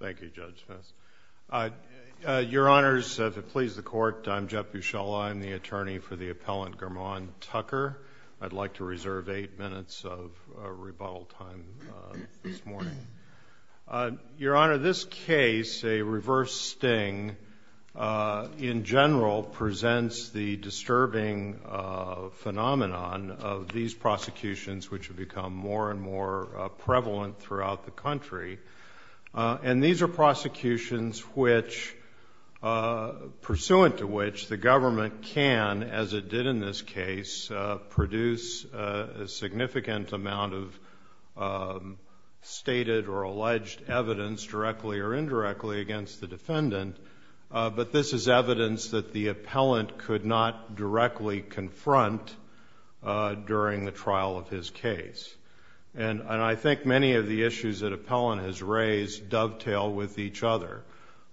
Thank you, Judge Smith. Your Honors, if it pleases the Court, I'm Jeff Buscella. I'm the attorney for the appellant Ghermon Tucker. I'd like to reserve eight minutes of rebuttal time this morning. Your Honor, this case, a reverse sting, in general presents the disturbing phenomenon of these prosecutions which have become more and more prevalent throughout the country. And these are prosecutions which, pursuant to which, the government can, as it did in this case, produce a significant amount of stated or alleged evidence, directly or indirectly, against the defendant. But this is evidence that the appellant could not directly confront during the trial of his case. And I think many of the issues that appellant has raised dovetail with each other.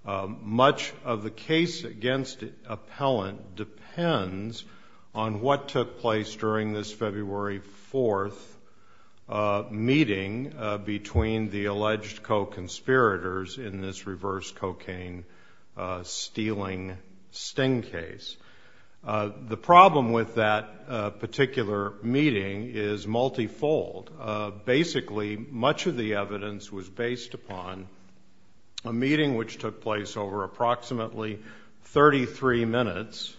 Much of the case against appellant depends on what took place during this February 4th meeting between the alleged co-conspirators in this reverse cocaine stealing sting case. The problem with that particular meeting is multifold. Basically, much of the evidence was based upon a meeting which took place over approximately 33 minutes.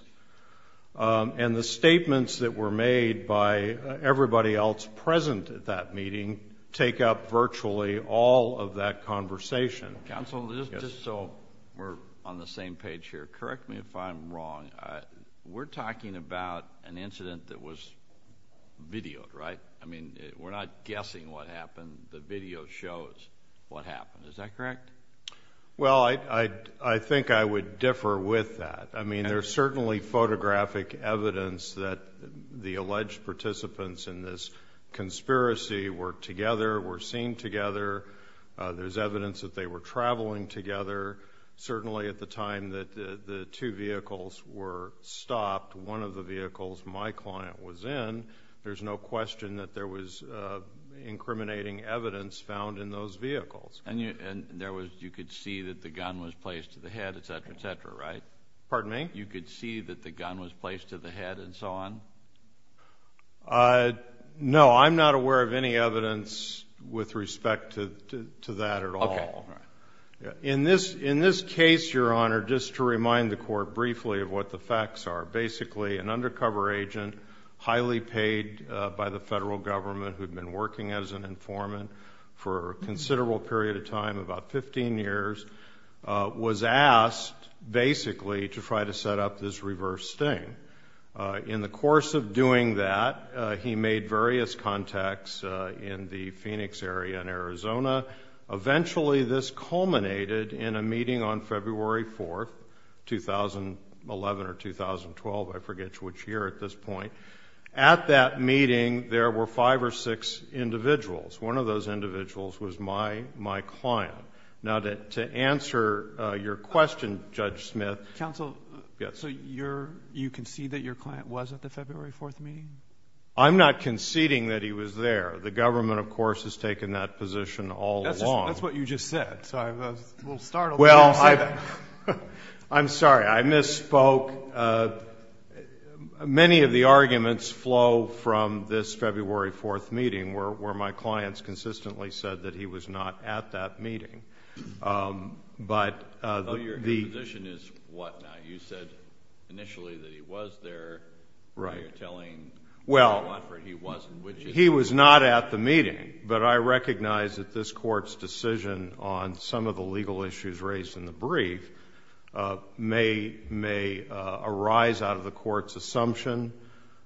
And the statements that were made by everybody else present at that meeting take up virtually all of that conversation. Counsel, just so we're on the same page here, correct me if I'm wrong. We're talking about an incident that was videoed, right? I mean, we're not guessing what happened. The video shows what happened. Is that correct? Well, I think I would differ with that. I mean, there's certainly photographic evidence that the alleged participants in this conspiracy were together, were seen together. There's evidence that they were traveling together. Certainly at the time that the two vehicles were stopped, one of the vehicles my client was in, there's no question that there was incriminating evidence found in those vehicles. And you could see that the gun was placed to the head, etc., etc., right? Pardon me? You could see that the gun was placed to the head and so on? No, I'm not aware of any evidence with respect to that at all. Okay. In this case, Your Honor, just to remind the Court briefly of what the facts are, basically an undercover agent, highly paid by the federal government, who had been working as an informant for a considerable period of time, about 15 years, was asked basically to try to set up this reverse sting. In the course of doing that, he made various contacts in the Phoenix area and Arizona. Eventually this culminated in a meeting on February 4th, 2011 or 2012, I forget which year at this point. At that meeting, there were five or six individuals. One of those individuals was my client. Now, to answer your question, Judge Smith. Counsel. Yes. So you concede that your client was at the February 4th meeting? I'm not conceding that he was there. The government, of course, has taken that position all along. That's what you just said, so I'm a little startled that you said that. Well, I'm sorry. I misspoke. Many of the arguments flow from this February 4th meeting where my clients consistently said that he was not at that meeting. So your position is what now? You said initially that he was there. You're telling Mr. Watford he wasn't. He was not at the meeting, but I recognize that this Court's decision on some of the legal issues raised in the brief may arise out of the Court's assumption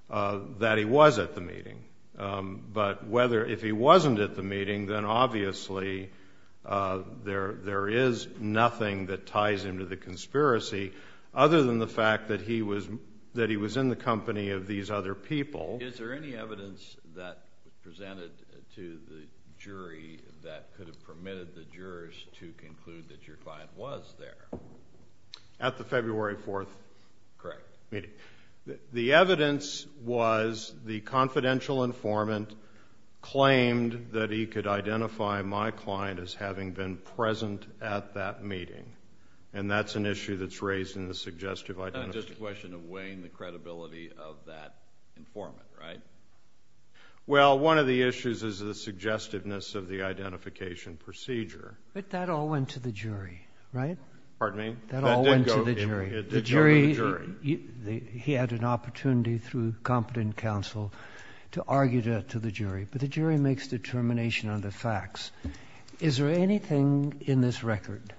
that he was at the meeting. But if he wasn't at the meeting, then obviously there is nothing that ties him to the conspiracy, other than the fact that he was in the company of these other people. Is there any evidence that was presented to the jury that could have permitted the jurors to conclude that your client was there? At the February 4th meeting. Correct. The evidence was the confidential informant claimed that he could identify my client as having been present at that meeting, and that's an issue that's raised in the suggestive identification. That's just a question of weighing the credibility of that informant, right? Well, one of the issues is the suggestiveness of the identification procedure. But that all went to the jury, right? Pardon me? That all went to the jury. It did go to the jury. He had an opportunity through competent counsel to argue that to the jury. But the jury makes determination on the facts. Is there anything in this record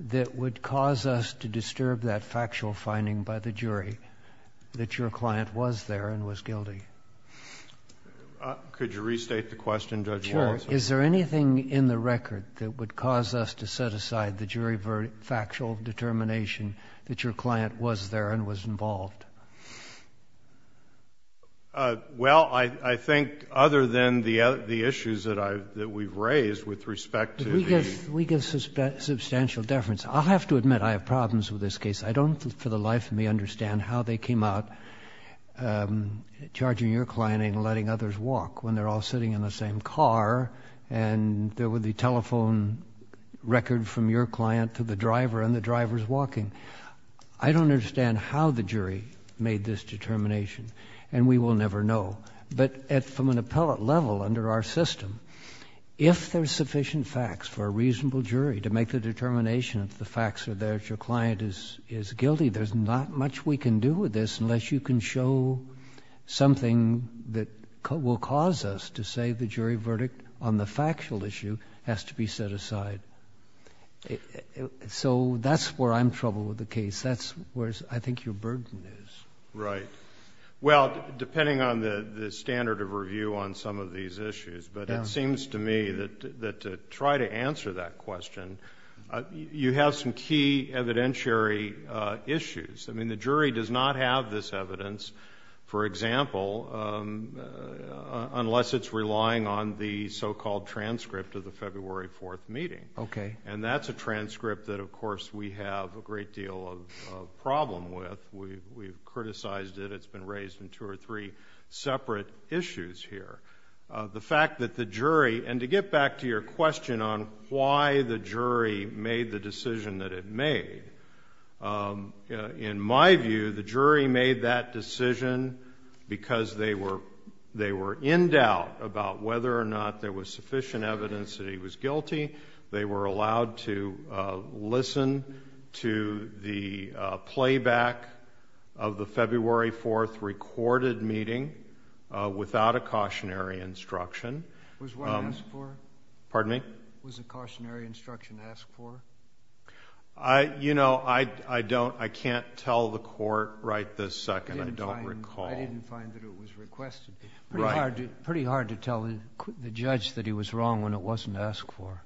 that would cause us to disturb that factual finding by the jury that your client was there and was guilty? Could you restate the question, Judge Wallace? Sure. Is there anything in the record that would cause us to set aside the jury factual determination that your client was there and was involved? Well, I think other than the issues that we've raised with respect to the ---- We give substantial deference. I'll have to admit I have problems with this case. I don't for the life of me understand how they came out charging your client and letting others walk when they're all sitting in the same car, and there were the telephone record from your client to the driver and the driver's walking. I don't understand how the jury made this determination, and we will never know. But from an appellate level under our system, if there are sufficient facts for a reasonable jury to make the determination if the facts are there that your client is guilty, there's not much we can do with this unless you can show something that will cause us to say the jury verdict on the factual issue has to be set aside. So that's where I'm troubled with the case. That's where I think your burden is. Right. Well, depending on the standard of review on some of these issues, but it seems to me that to try to answer that question, you have some key evidentiary issues. I mean, the jury does not have this evidence, for example, unless it's relying on the so-called transcript of the February 4th meeting. Okay. And that's a transcript that, of course, we have a great deal of problem with. We've criticized it. It's been raised in two or three separate issues here. The fact that the jury, and to get back to your question on why the jury made the decision that it made, in my view, the jury made that decision because they were in doubt about whether or not there was sufficient evidence that he was guilty. They were allowed to listen to the playback of the February 4th recorded meeting without a cautionary instruction. Was one asked for? Pardon me? Was a cautionary instruction asked for? You know, I can't tell the Court right this second. I don't recall. I didn't find that it was requested. Right. Pretty hard to tell the judge that he was wrong when it wasn't asked for.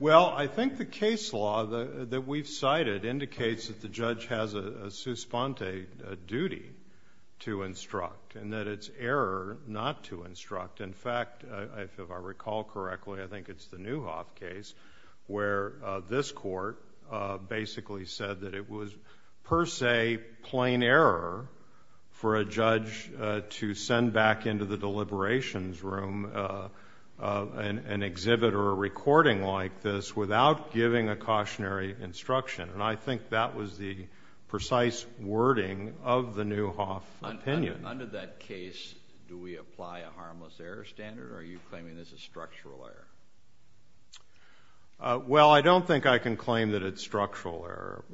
Well, I think the case law that we've cited indicates that the judge has a suspente duty to instruct and that it's error not to instruct. In fact, if I recall correctly, I think it's the Newhoff case, where this Court basically said that it was per se plain error for a judge to send back into the deliberations room an exhibit or a recording like this without giving a cautionary instruction. And I think that was the precise wording of the Newhoff opinion. Under that case, do we apply a harmless error standard, or are you claiming this is structural error? Well, I don't think I can claim that it's structural error.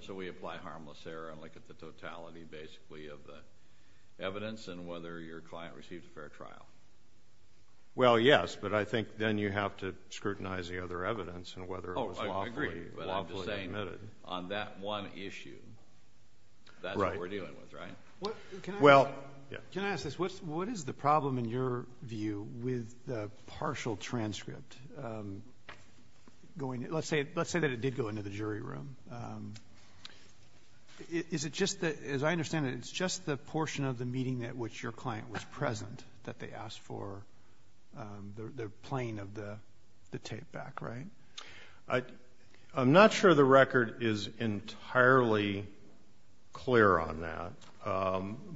So we apply harmless error and look at the totality, basically, of the evidence and whether your client received a fair trial? Well, yes, but I think then you have to scrutinize the other evidence and whether it was lawfully admitted. Oh, I agree. But I'm just saying on that one issue, that's what we're dealing with, right? Can I ask this? What is the problem, in your view, with the partial transcript? Let's say that it did go into the jury room. Is it just that, as I understand it, it's just the portion of the meeting at which your client was present that they asked for the plain of the tape back, right? I'm not sure the record is entirely clear on that,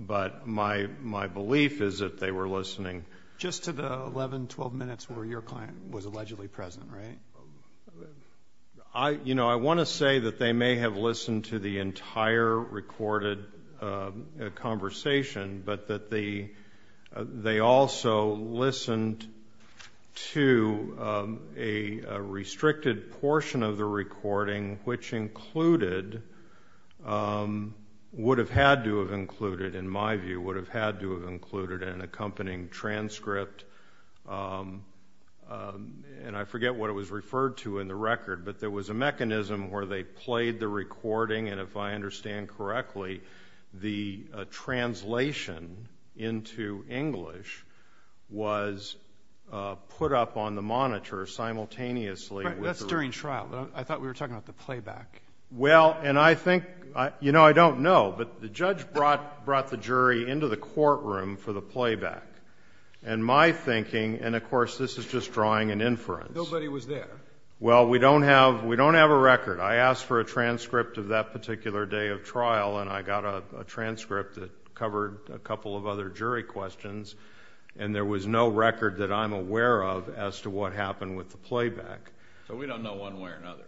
but my belief is that they were listening. Just to the 11, 12 minutes where your client was allegedly present, right? You know, I want to say that they may have listened to the entire recorded conversation, but that they also listened to a restricted portion of the recording, which included, would have had to have included, in my view, would have had to have included an accompanying transcript, and I forget what it was referred to in the record, but there was a mechanism where they played the recording, and if I understand correctly, the translation into English was put up on the monitor simultaneously. That's during trial. I thought we were talking about the playback. Well, and I think, you know, I don't know, but the judge brought the jury into the courtroom for the playback. And my thinking, and of course this is just drawing an inference. Nobody was there. Well, we don't have a record. I asked for a transcript of that particular day of trial, and I got a transcript that covered a couple of other jury questions, and there was no record that I'm aware of as to what happened with the playback. So we don't know one way or another.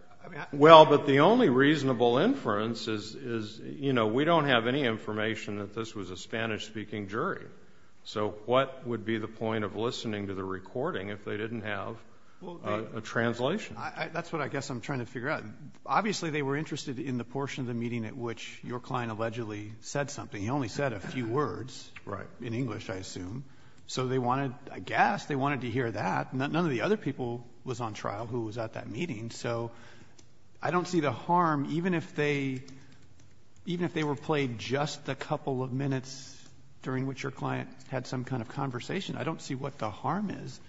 Well, but the only reasonable inference is, you know, we don't have any information that this was a Spanish-speaking jury. So what would be the point of listening to the recording if they didn't have a translation? That's what I guess I'm trying to figure out. Obviously they were interested in the portion of the meeting at which your client allegedly said something. He only said a few words. Right. In English, I assume. So they wanted, I guess, they wanted to hear that. None of the other people was on trial who was at that meeting. So I don't see the harm, even if they were played just a couple of minutes during which your client had some kind of conversation, I don't see what the harm is.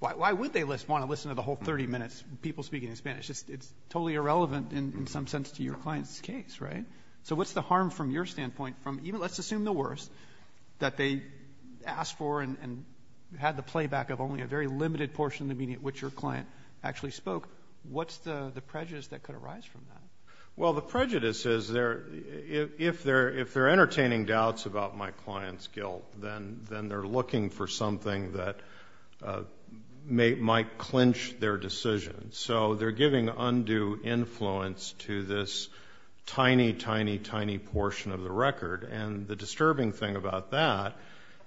Why would they want to listen to the whole 30 minutes of people speaking in Spanish? It's totally irrelevant in some sense to your client's case, right? So what's the harm from your standpoint from even, let's assume the worst, that they asked for and had the playback of only a very limited portion of the meeting at which your client actually spoke? What's the prejudice that could arise from that? Well, the prejudice is if they're entertaining doubts about my client's guilt, then they're looking for something that might clinch their decision. So they're giving undue influence to this tiny, tiny, tiny portion of the record. And the disturbing thing about that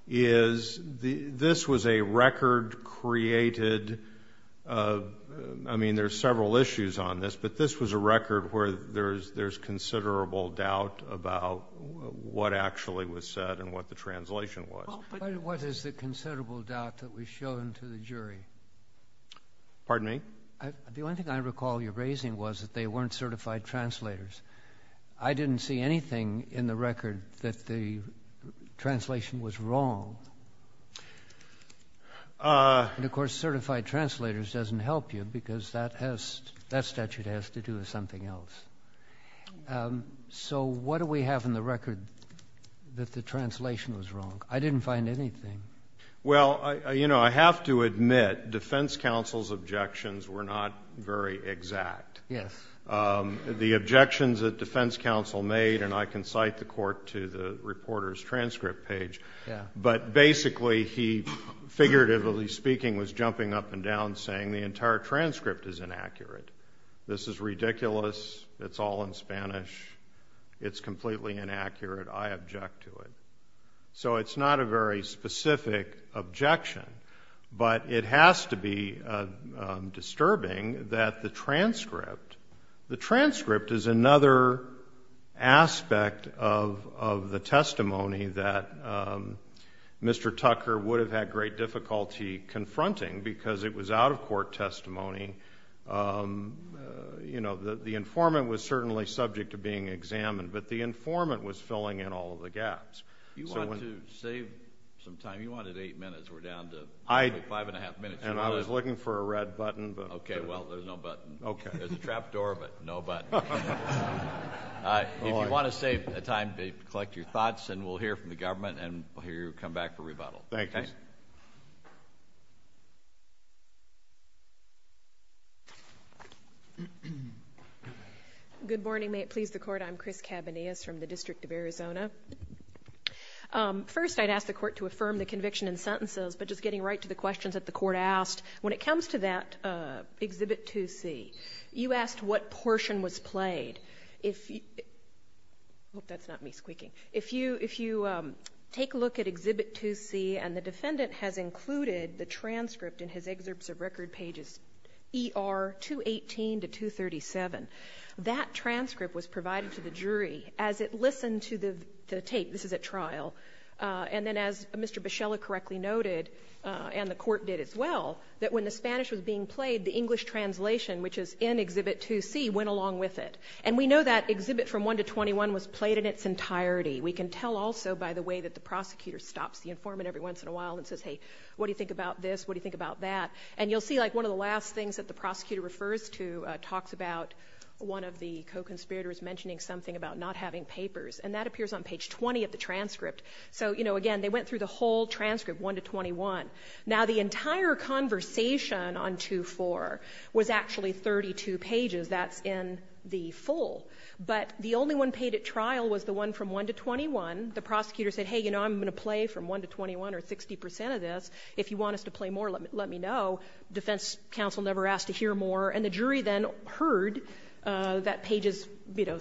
is this was a record created, I mean, there's several issues on this, but this was a record where there's considerable doubt about what actually was said and what the translation was. But what is the considerable doubt that was shown to the jury? Pardon me? The only thing I recall you raising was that they weren't certified translators. I didn't see anything in the record that the translation was wrong. And, of course, certified translators doesn't help you because that statute has to do with something else. So what do we have in the record that the translation was wrong? I didn't find anything. Well, you know, I have to admit defense counsel's objections were not very exact. Yes. The objections that defense counsel made, and I can cite the court to the reporter's transcript page, but basically he, figuratively speaking, was jumping up and down saying the entire transcript is inaccurate. This is ridiculous. It's all in Spanish. It's completely inaccurate. I object to it. So it's not a very specific objection, but it has to be disturbing that the transcript, the transcript is another aspect of the testimony that Mr. Tucker would have had great difficulty confronting because it was out-of-court testimony. You know, the informant was certainly subject to being examined, but the informant was filling in all of the gaps. You want to save some time? You wanted eight minutes. We're down to five and a half minutes. And I was looking for a red button. Okay, well, there's no button. Okay. There's a trap door, but no button. If you want to save time, collect your thoughts, and we'll hear from the government, and we'll hear you come back for rebuttal. Thank you. Good morning. May it please the Court. I'm Chris Cabanillas from the District of Arizona. First, I'd ask the Court to affirm the conviction and sentences, but just getting right to the questions that the Court asked. When it comes to that Exhibit 2C, you asked what portion was played. If you take a look at Exhibit 2C, and the defendant has included the transcript in his excerpts of record pages ER 218 to 237. That transcript was provided to the jury as it listened to the tape. This is at trial. And then as Mr. Bichella correctly noted, and the Court did as well, that when the Spanish was being played, the English translation, which is in Exhibit 2C, went along with it. And we know that Exhibit from 1 to 21 was played in its entirety. We can tell also by the way that the prosecutor stops the informant every once in a while and says, hey, what do you think about this? What do you think about that? And you'll see, like, one of the last things that the prosecutor refers to talks about one of the co-conspirators mentioning something about not having papers. And that appears on page 20 of the transcript. So, you know, again, they went through the whole transcript, 1 to 21. Now, the entire conversation on 2-4 was actually 32 pages. That's in the full. But the only one paid at trial was the one from 1 to 21. The prosecutor said, hey, you know, I'm going to play from 1 to 21 or 60 percent of this. If you want us to play more, let me know. Defense counsel never asked to hear more. And the jury then heard that pages, you know,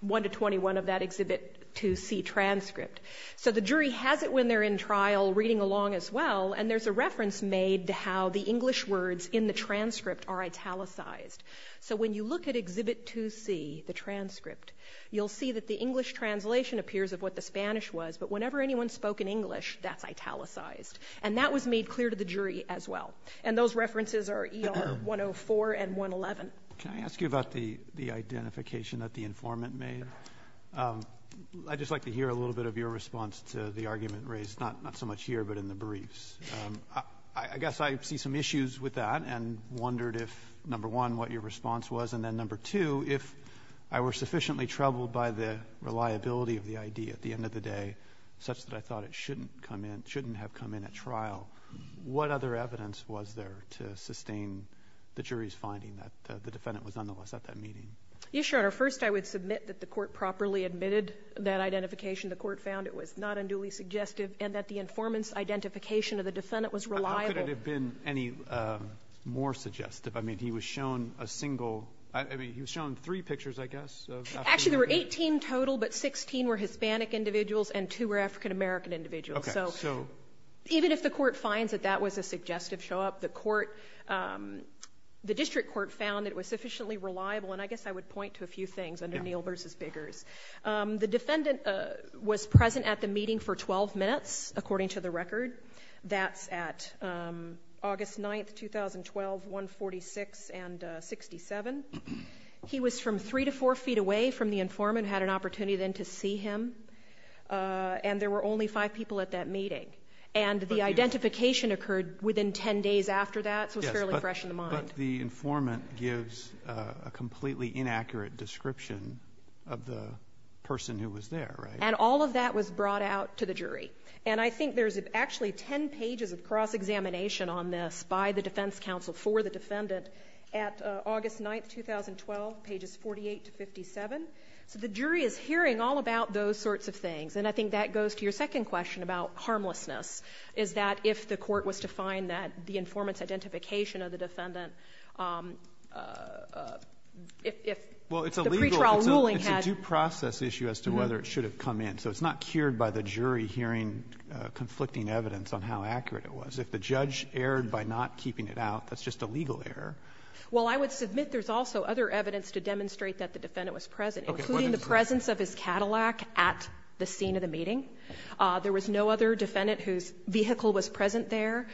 1 to 21 of that Exhibit 2C transcript. So the jury has it when they're in trial reading along as well. And there's a reference made to how the English words in the transcript are italicized. So when you look at Exhibit 2C, the transcript, you'll see that the English translation appears of what the Spanish was. But whenever anyone spoke in English, that's italicized. And that was made clear to the jury as well. And those references are ER 104 and 111. Can I ask you about the identification that the informant made? I'd just like to hear a little bit of your response to the argument raised, not so much here but in the briefs. I guess I see some issues with that and wondered if, number one, what your response was, and then, number two, if I were sufficiently troubled by the reliability of the ID at the end of the day, such that I thought it shouldn't come in, shouldn't have come in at trial, what other evidence was there to sustain the jury's finding that the defendant was nonetheless at that meeting? Yes, Your Honor. First, I would submit that the court properly admitted that identification. The court found it was not unduly suggestive and that the informant's identification of the defendant was reliable. How could it have been any more suggestive? I mean, he was shown a single ‑‑ I mean, he was shown three pictures, I guess, of African Americans. Actually, there were 18 total, but 16 were Hispanic individuals and two were African American individuals. Okay. So even if the court finds that that was a suggestive show up, the district court found it was sufficiently reliable, and I guess I would point to a few things under Neal v. Biggers. The defendant was present at the meeting for 12 minutes, according to the record. That's at August 9, 2012, 146 and 67. He was from three to four feet away from the informant, had an opportunity then to see him, and there were only five people at that meeting. And the identification occurred within 10 days after that, so it's fairly fresh in the mind. But the informant gives a completely inaccurate description of the person who was there, right? And all of that was brought out to the jury. And I think there's actually 10 pages of cross-examination on this by the defense counsel for the defendant at August 9, 2012, pages 48 to 57. So the jury is hearing all about those sorts of things. And I think that goes to your second question about harmlessness, is that if the court was to find that the informant's identification of the defendant, if the pre-trial ruling had— Well, it's a legal—it's a due process issue as to whether it should have come in. So it's not cured by the jury hearing conflicting evidence on how accurate it was. If the judge erred by not keeping it out, that's just a legal error. Well, I would submit there's also other evidence to demonstrate that the defendant was present, including the presence of his Cadillac at the scene of the meeting. There was no other defendant whose vehicle was present there.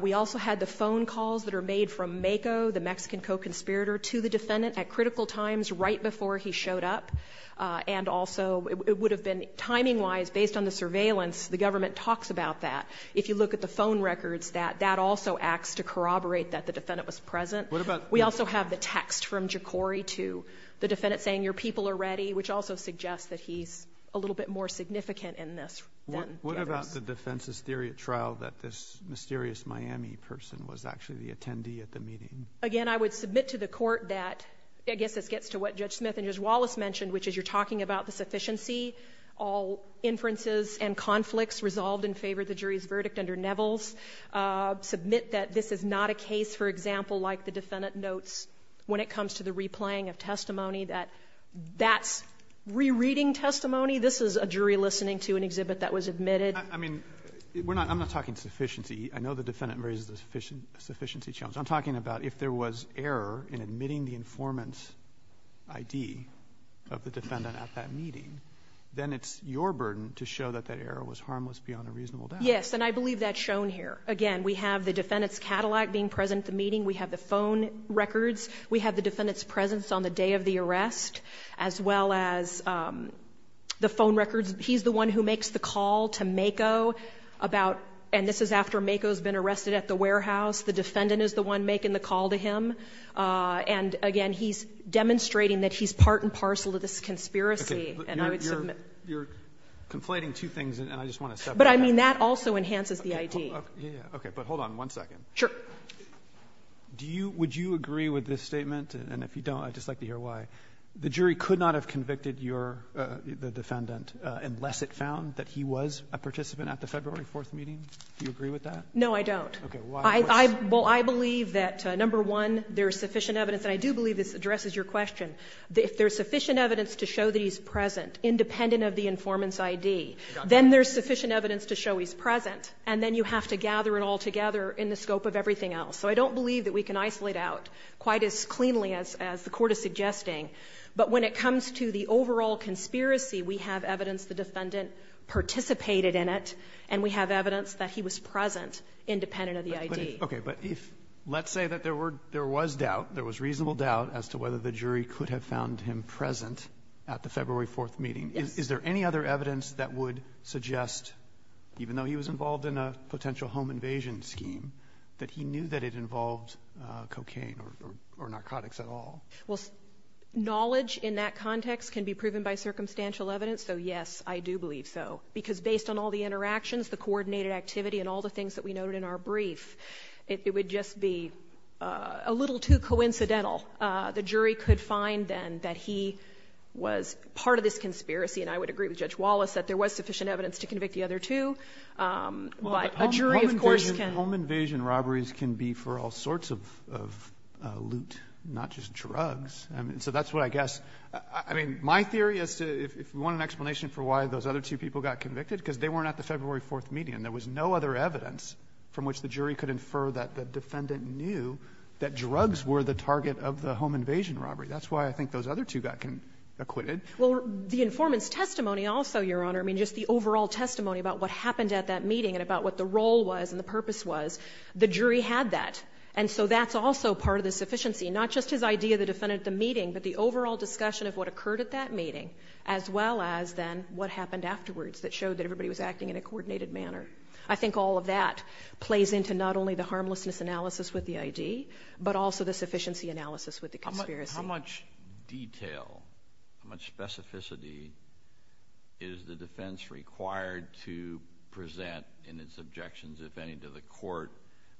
We also had the phone calls that are made from Mako, the Mexican co-conspirator, to the defendant at critical times right before he showed up. And also, it would have been timing-wise, based on the surveillance, the government talks about that. If you look at the phone records, that also acts to corroborate that the defendant was present. What about— We also have the text from Jokori to the defendant saying, Your people are ready, which also suggests that he's a little bit more significant in this than the others. What about the defense's theory at trial that this mysterious Miami person was actually the attendee at the meeting? Again, I would submit to the Court that—I guess this gets to what Judge Smith and Judge Wallace mentioned, which is you're talking about the sufficiency, all inferences and conflicts resolved in favor of the jury's verdict under Neville's. I would submit that this is not a case, for example, like the defendant notes when it comes to the replaying of testimony, that that's rereading testimony. This is a jury listening to an exhibit that was admitted. I mean, we're not — I'm not talking sufficiency. I know the defendant raises the sufficiency challenge. I'm talking about if there was error in admitting the informant's ID of the defendant at that meeting, then it's your burden to show that that error was harmless beyond a reasonable doubt. Yes, and I believe that's shown here. Again, we have the defendant's Cadillac being present at the meeting. We have the phone records. We have the defendant's presence on the day of the arrest, as well as the phone records. He's the one who makes the call to Mako about — and this is after Mako's been arrested at the warehouse. The defendant is the one making the call to him. And, again, he's demonstrating that he's part and parcel of this conspiracy. And I would submit— You're conflating two things, and I just want to step back. But, I mean, that also enhances the ID. Okay. But hold on one second. Sure. Do you — would you agree with this statement? And if you don't, I'd just like to hear why. The jury could not have convicted your — the defendant unless it found that he was a participant at the February 4th meeting. Do you agree with that? No, I don't. Okay. Why? Well, I believe that, number one, there is sufficient evidence, and I do believe this addresses your question. If there's sufficient evidence to show that he's present, independent of the informant's Then there's sufficient evidence to show he's present. And then you have to gather it all together in the scope of everything else. So I don't believe that we can isolate out quite as cleanly as the Court is suggesting. But when it comes to the overall conspiracy, we have evidence the defendant participated in it, and we have evidence that he was present, independent of the ID. Okay. But if — let's say that there were — there was doubt, there was reasonable doubt as to whether the jury could have found him present at the February 4th meeting. Yes. Is there any other evidence that would suggest, even though he was involved in a potential home invasion scheme, that he knew that it involved cocaine or narcotics at all? Well, knowledge in that context can be proven by circumstantial evidence. So, yes, I do believe so. Because based on all the interactions, the coordinated activity, and all the things that we noted in our brief, it would just be a little too coincidental. The jury could find, then, that he was part of this conspiracy. And I would agree with Judge Wallace that there was sufficient evidence to convict the other two. But a jury, of course, can — Home invasion robberies can be for all sorts of loot, not just drugs. So that's what I guess. I mean, my theory as to — if we want an explanation for why those other two people got convicted, because they weren't at the February 4th meeting and there was no other evidence from which the jury could infer that the defendant knew that drugs were the target of the home invasion robbery. That's why I think those other two got acquitted. Well, the informant's testimony also, Your Honor, I mean, just the overall testimony about what happened at that meeting and about what the role was and the purpose was, the jury had that. And so that's also part of the sufficiency. Not just his idea of the defendant at the meeting, but the overall discussion of what occurred at that meeting, as well as, then, what happened afterwards that showed that everybody was acting in a coordinated manner. I think all of that plays into not only the harmlessness analysis with the ID, but also the sufficiency analysis with the conspiracy. How much detail, how much specificity is the defense required to present in its objections, if any, to the court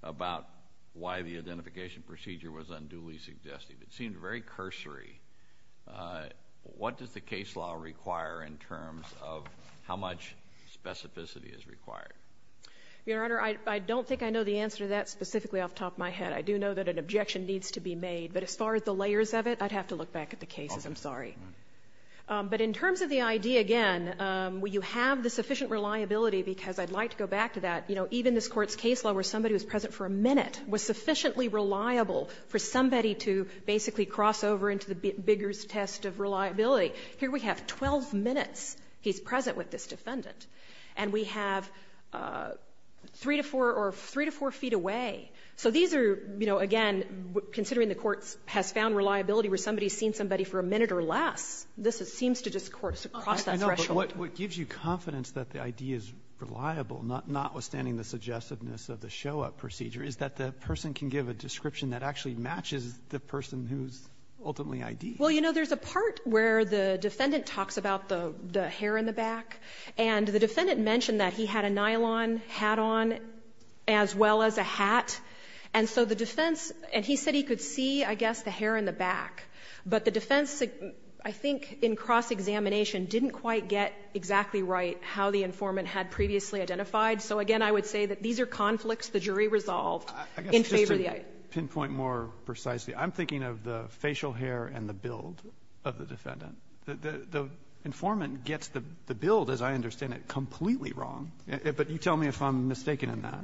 about why the identification procedure was unduly suggestive? It seemed very cursory. What does the case law require in terms of how much specificity is required? Your Honor, I don't think I know the answer to that specifically off the top of my head. I do know that an objection needs to be made. But as far as the layers of it, I'd have to look back at the cases. I'm sorry. But in terms of the ID, again, you have the sufficient reliability, because I'd like to go back to that. You know, even this Court's case law where somebody was present for a minute was sufficiently reliable for somebody to basically cross over into the Bigger's test of reliability. Here we have 12 minutes he's present with this defendant. And we have 3 to 4 or 3 to 4 feet away. So these are, you know, again, considering the Court has found reliability where somebody's seen somebody for a minute or less, this seems to just cross that threshold. But what gives you confidence that the ID is reliable, notwithstanding the suggestiveness of the show-up procedure, is that the person can give a description that actually matches the person who's ultimately ID'd. Well, you know, there's a part where the defendant talks about the hair in the back, and the defendant mentioned that he had a nylon hat on as well as a hat. And so the defense, and he said he could see, I guess, the hair in the back. But the defense, I think, in cross-examination, didn't quite get exactly right how the informant had previously identified. So again, I would say that these are conflicts the jury resolved in favor of the ID. I guess just to pinpoint more precisely, I'm thinking of the facial hair and the build of the defendant. The informant gets the build, as I understand it, completely wrong. But you tell me if I'm mistaken in that.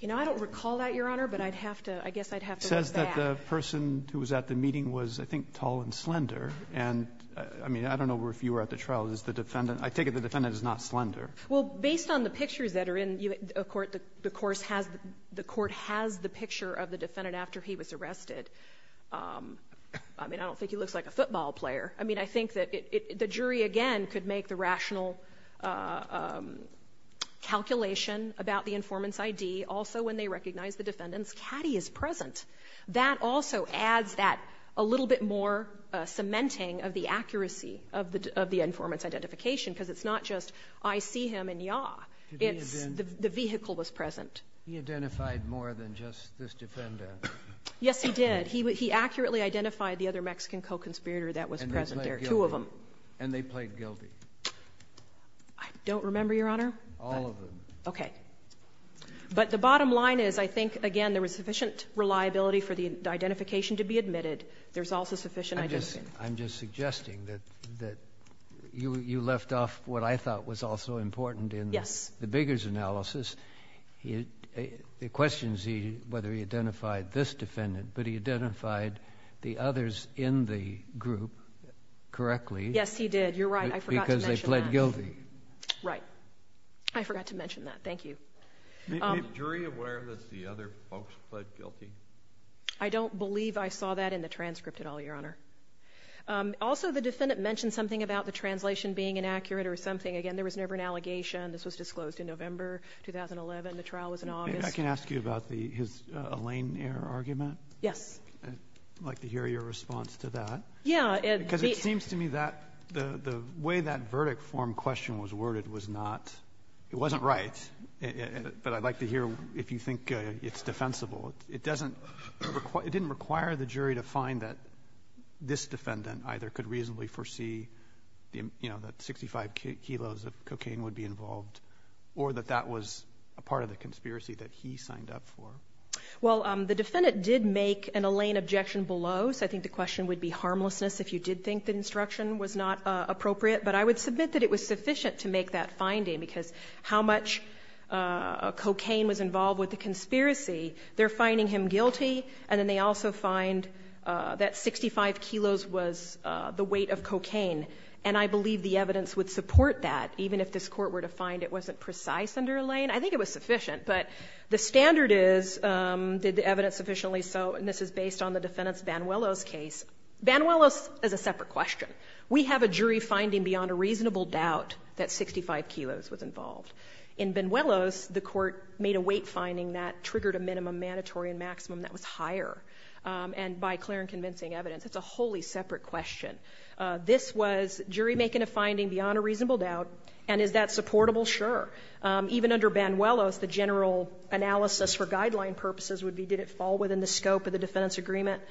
You know, I don't recall that, Your Honor, but I'd have to, I guess I'd have to look back. It says that the person who was at the meeting was, I think, tall and slender. And, I mean, I don't know if you were at the trial. I take it the defendant is not slender. Well, based on the pictures that are in the Court, the Court has the picture of the defendant after he was arrested. I mean, I don't think he looks like a football player. I mean, I think that the jury, again, could make the rational calculation about the informant's ID. Also, when they recognize the defendant's caddy is present. That also adds that a little bit more cementing of the accuracy of the informant's identification. Because it's not just, I see him in yaw. The vehicle was present. He identified more than just this defendant. Yes, he did. He accurately identified the other Mexican co-conspirator that was present there. And they played guilty. Two of them. And they played guilty. I don't remember, Your Honor. All of them. Okay. But the bottom line is, I think, again, there was sufficient reliability for the identification to be admitted. There's also sufficient identification. analysis. Yes. It questions whether he identified this defendant. But he identified the others in the group correctly. Yes, he did. You're right. I forgot to mention that. Because they played guilty. Right. I forgot to mention that. Thank you. Is jury aware that the other folks played guilty? I don't believe I saw that in the transcript at all, Your Honor. Also, the defendant mentioned something about the translation being inaccurate or something. Again, there was never an allegation. This was disclosed in November 2011. The trial was in August. I can ask you about his Elaine error argument. Yes. I'd like to hear your response to that. Yeah. Because it seems to me that the way that verdict form question was worded was not... it wasn't right. But I'd like to hear if you think it's defensible. It didn't require the jury to find that this defendant either could reasonably foresee that 65 kilos of cocaine would be involved or that that was a part of the conspiracy that he signed up for. Well, the defendant did make an Elaine objection below. So I think the question would be harmlessness if you did think the instruction was not appropriate. But I would submit that it was sufficient to make that finding because how much cocaine was involved with the conspiracy, they're finding him guilty, and then they also find that 65 kilos was the weight of cocaine. And I believe the evidence would support that, even if this Court were to find it wasn't precise under Elaine. I think it was sufficient. But the standard is, did the evidence sufficiently so? And this is based on the defendant's Banuelos case. Banuelos is a separate question. We have a jury finding beyond a reasonable doubt that 65 kilos was involved. In Banuelos, the Court made a weight finding that triggered a minimum, mandatory and maximum that was higher, and by clear and convincing evidence. It's a wholly separate question. This was jury making a finding beyond a reasonable doubt. And is that supportable? Sure. Even under Banuelos, the general analysis for guideline purposes would be did it fall within the scope of the defendant's agreement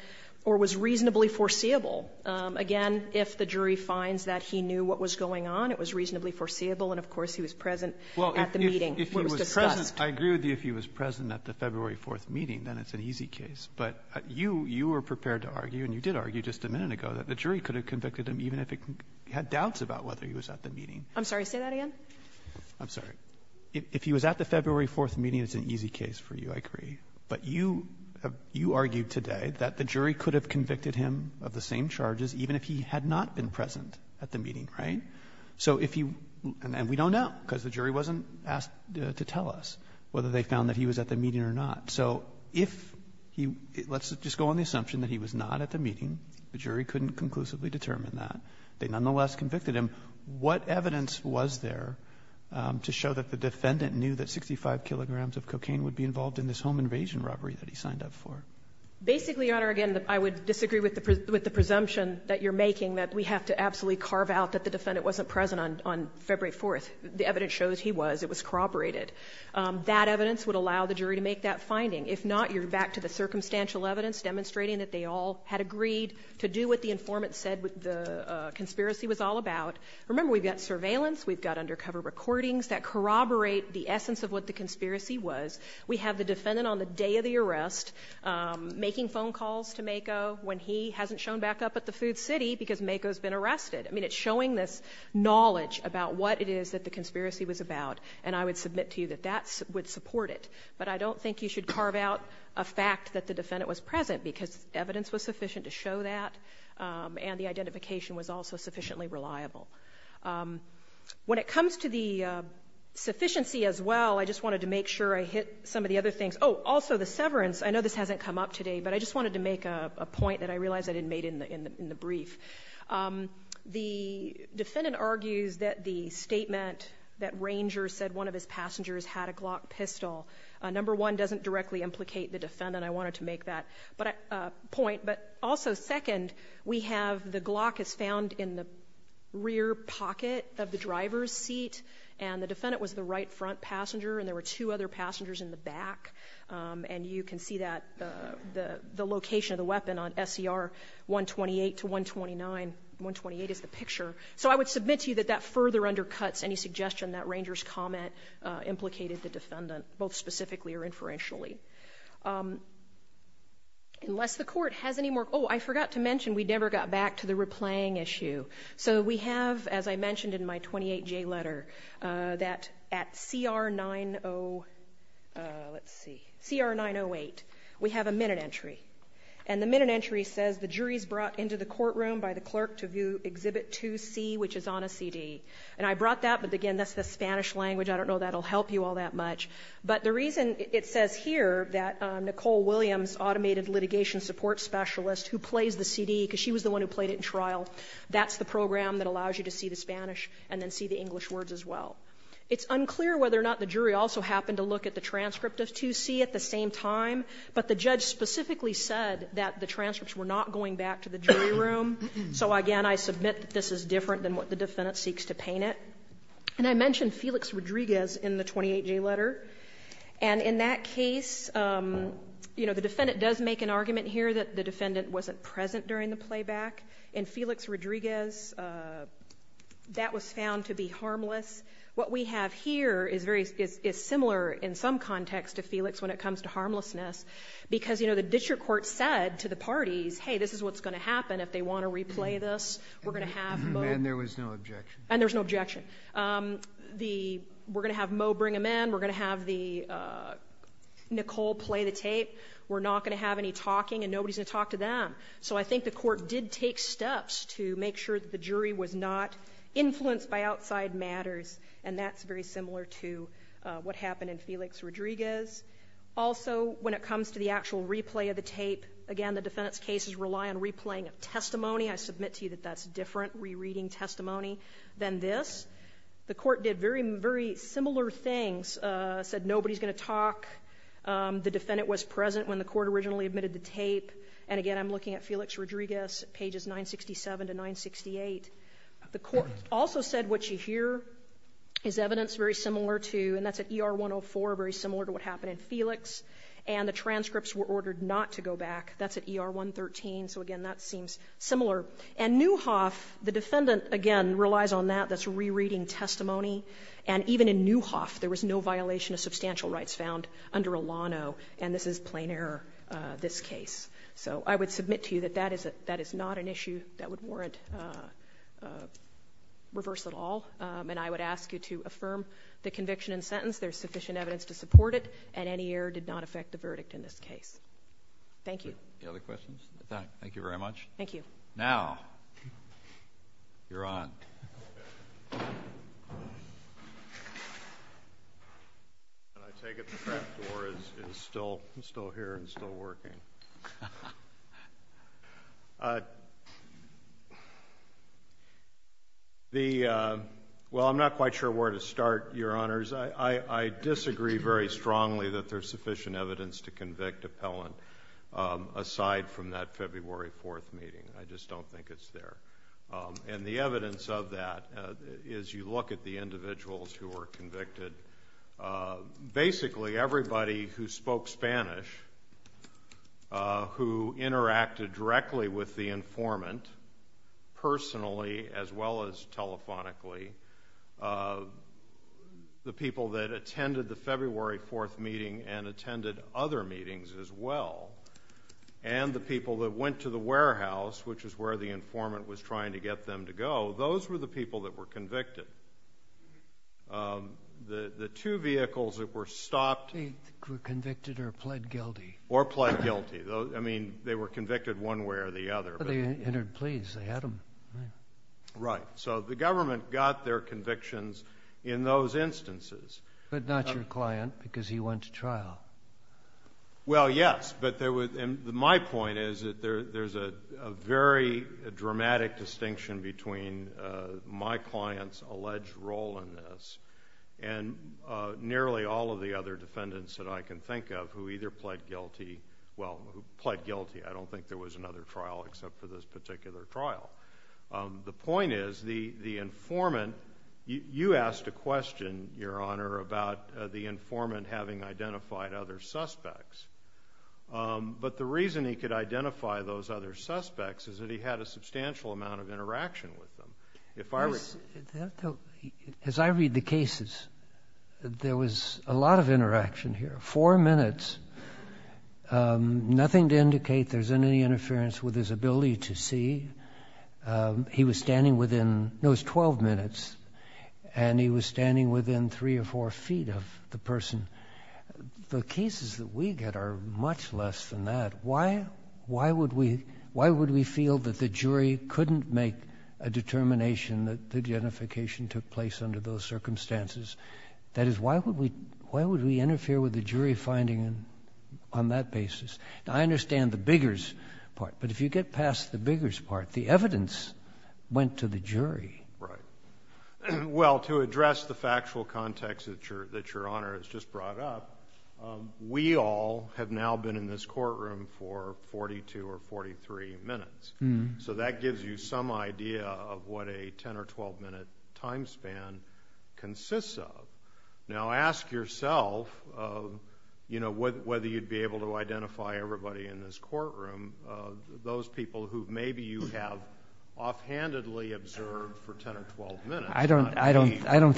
or was reasonably foreseeable? Again, if the jury finds that he knew what was going on, it was reasonably foreseeable, and of course, he was present at the meeting. It was discussed. Breyer. I agree with you if he was present at the February 4th meeting, then it's an easy case. But you, you were prepared to argue, and you did argue just a minute ago, that the jury could have convicted him even if it had doubts about whether he was at the meeting. I'm sorry. Say that again. I'm sorry. If he was at the February 4th meeting, it's an easy case for you, I agree. But you, you argued today that the jury could have convicted him of the same charges even if he had not been present at the meeting, right? So if he, and we don't know because the jury wasn't asked to tell us whether they found that he was at the meeting or not. So if he, let's just go on the assumption that he was not at the meeting. The jury couldn't conclusively determine that. They nonetheless convicted him. What evidence was there to show that the defendant knew that 65 kilograms of cocaine would be involved in this home invasion robbery that he signed up for? Basically, Your Honor, again, I would disagree with the presumption that you're making that we have to absolutely carve out that the defendant wasn't present on February 4th. The evidence shows he was. It was corroborated. That evidence would allow the jury to make that finding. If not, you're back to the circumstantial evidence demonstrating that they all had agreed to do what the informant said the conspiracy was all about. Remember, we've got surveillance, we've got undercover recordings that corroborate the essence of what the conspiracy was. We have the defendant on the day of the arrest making phone calls to Mako when he was arrested. I mean, it's showing this knowledge about what it is that the conspiracy was about, and I would submit to you that that would support it. But I don't think you should carve out a fact that the defendant was present because evidence was sufficient to show that, and the identification was also sufficiently reliable. When it comes to the sufficiency as well, I just wanted to make sure I hit some of the other things. Oh, also the severance. I know this hasn't come up today, but I just wanted to make a point that I realized I didn't make in the brief. The defendant argues that the statement that Ranger said one of his passengers had a Glock pistol, number one, doesn't directly implicate the defendant. I wanted to make that point. But also second, we have the Glock is found in the rear pocket of the driver's seat, and the defendant was the right front passenger, and there were two other passengers in the back. And you can see the location of the weapon on SCR 128 to 129. 128 is the picture. So I would submit to you that that further undercuts any suggestion that Ranger's comment implicated the defendant, both specifically or inferentially. Unless the court has any more – oh, I forgot to mention we never got back to the replaying issue. So we have, as I mentioned in my 28J letter, that at CR 908, we have a minute entry. And the minute entry says the jury is brought into the courtroom by the clerk to view Exhibit 2C, which is on a CD. And I brought that, but again, that's the Spanish language. I don't know that will help you all that much. But the reason it says here that Nicole Williams, automated litigation support specialist who plays the CD, because she was the one who played it in trial, that's the program that allows you to see the Spanish and then see the English words as well. It's unclear whether or not the jury also happened to look at the transcript of 2C at the same time, but the judge specifically said that the transcripts were not going back to the jury room. So, again, I submit that this is different than what the defendant seeks to paint it. And I mentioned Felix Rodriguez in the 28J letter. And in that case, you know, the defendant does make an argument here that the defendant wasn't present during the playback. In Felix Rodriguez, that was found to be harmless. What we have here is similar in some context to Felix when it comes to harmlessness, because, you know, the district court said to the parties, hey, this is what's going to happen if they want to replay this. We're going to have Moe. And there was no objection. And there was no objection. We're going to have Moe bring him in. We're going to have Nicole play the tape. We're not going to have any talking, and nobody's going to talk to them. So I think the court did take steps to make sure that the jury was not influenced by outside matters, and that's very similar to what happened in Felix Rodriguez. Also, when it comes to the actual replay of the tape, again, the defendant's cases rely on replaying of testimony. I submit to you that that's different, rereading testimony, than this. The court did very similar things, said nobody's going to talk. The defendant was present when the court originally admitted the tape. And, again, I'm looking at Felix Rodriguez, pages 967 to 968. The court also said what you hear is evidence very similar to, and that's at ER 104, very similar to what happened in Felix, and the transcripts were ordered not to go back. That's at ER 113. So, again, that seems similar. And Newhoff, the defendant, again, relies on that, that's rereading testimony. And even in Newhoff, there was no violation of substantial rights found under Olano, and this is plain error, this case. So I would submit to you that that is not an issue that would warrant reverse at all. And I would ask you to affirm the conviction and sentence. There's sufficient evidence to support it, and any error did not affect the verdict in this case. Thank you. All right. Any other questions? No. Thank you very much. Thank you. Now, you're on. Can I take it the front door is still here and still working? Well, I'm not quite sure where to start, Your Honors. I disagree very strongly that there's sufficient evidence to convict appellant aside from that February 4th meeting. I just don't think it's there. And the evidence of that is you look at the individuals who were convicted. Basically, everybody who spoke Spanish, who interacted directly with the informant, personally as well as telephonically, the people that attended the February 4th meeting and attended other meetings as well, and the people that went to the warehouse, which is where the informant was trying to get them to go, those were the people that were convicted. The two vehicles that were stopped… They were convicted or pled guilty. Or pled guilty. I mean, they were convicted one way or the other. They entered pleas. They had them. Right. So the government got their convictions in those instances. But not your client because he went to trial. Well, yes. But my point is that there's a very dramatic distinction between my client's alleged role in this and nearly all of the other defendants that I can think of who either pled guilty. I don't think there was another trial except for this particular trial. The point is the informant… You asked a question, Your Honor, about the informant having identified other suspects. But the reason he could identify those other suspects is that he had a substantial amount of interaction with them. As I read the cases, there was a lot of interaction here. Four minutes. Nothing to indicate there's any interference with his ability to see. He was standing within… No, it was 12 minutes. And he was standing within three or four feet of the person. The cases that we get are much less than that. Why would we feel that the jury couldn't make a determination that the identification took place under those circumstances? That is, why would we interfere with the jury finding on that basis? I understand the bigger part, but if you get past the bigger part, the evidence went to the jury. Right. Well, to address the factual context that Your Honor has just brought up, we all have now been in this courtroom for 42 or 43 minutes. So that gives you some idea of what a 10 or 12 minute time span consists of. Now ask yourself whether you'd be able to identify everybody in this courtroom, those people who maybe you have offhandedly observed for 10 or 12 minutes. I don't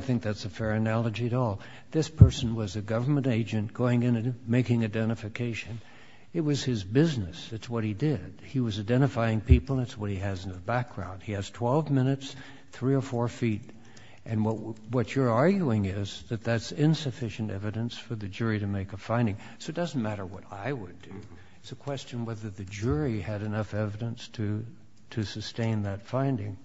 think that's a fair analogy at all. This person was a government agent going in and making identification. It was his business. It's what he did. He was identifying people, and it's what he has in the background. He has 12 minutes, three or four feet. And what you're arguing is that that's insufficient evidence for the jury to make a finding. So it doesn't matter what I would do. It's a question whether the jury had enough evidence to sustain that finding.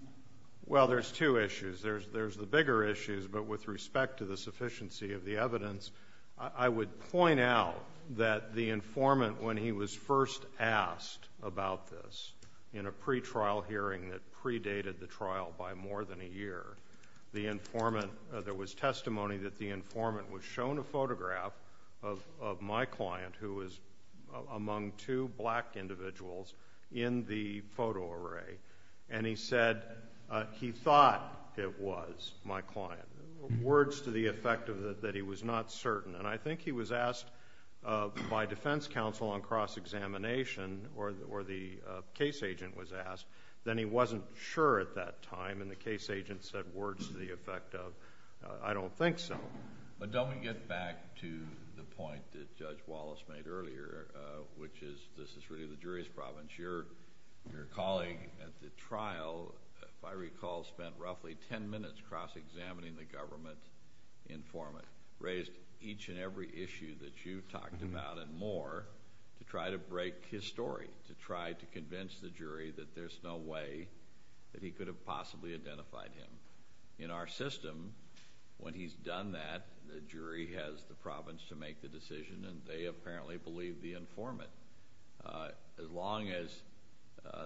Well, there's two issues. There's the bigger issues, but with respect to the sufficiency of the evidence, I would point out that the informant, when he was first asked about this, in a pretrial hearing that predated the trial by more than a year, there was testimony that the informant was shown a photograph of my client, who was among two black individuals, in the photo array, words to the effect that he was not certain. And I think he was asked by defense counsel on cross-examination, or the case agent was asked, then he wasn't sure at that time, and the case agent said words to the effect of, I don't think so. But don't we get back to the point that Judge Wallace made earlier, which is this is really the jury's problem. Your colleague at the trial, if I recall, spent roughly ten minutes cross-examining the government informant, raised each and every issue that you talked about and more to try to break his story, to try to convince the jury that there's no way that he could have possibly identified him. In our system, when he's done that, the jury has the province to make the decision, and they apparently believe the informant. As long as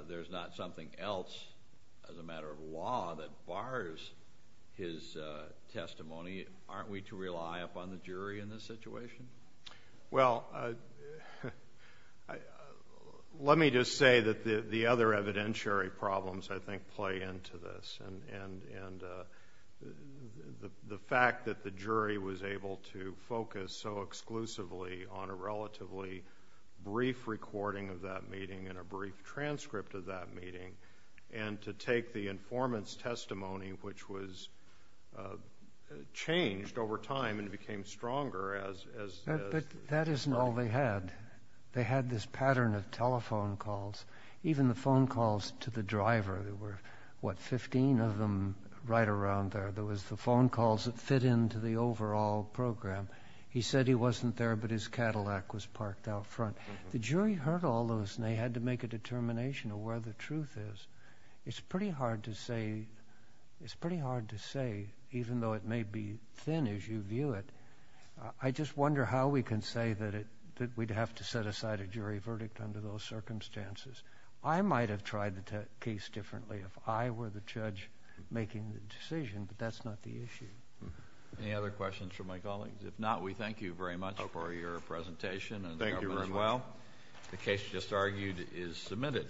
there's not something else as a matter of law that bars his testimony, aren't we to rely upon the jury in this situation? Well, let me just say that the other evidentiary problems, I think, play into this. The fact that the jury was able to focus so exclusively on a relatively brief recording of that meeting and a brief transcript of that meeting, and to take the informant's testimony, which was changed over time and became stronger as— But that isn't all they had. They had this pattern of telephone calls, even the phone calls to the driver. There were, what, 15 of them right around there. There was the phone calls that fit into the overall program. He said he wasn't there, but his Cadillac was parked out front. The jury heard all those, and they had to make a determination of where the truth is. It's pretty hard to say, even though it may be thin as you view it, I just wonder how we can say that we'd have to set aside a jury verdict under those circumstances. I might have tried the case differently if I were the judge making the decision, but that's not the issue. Any other questions from my colleagues? If not, we thank you very much for your presentation. Thank you very much. The case just argued is submitted.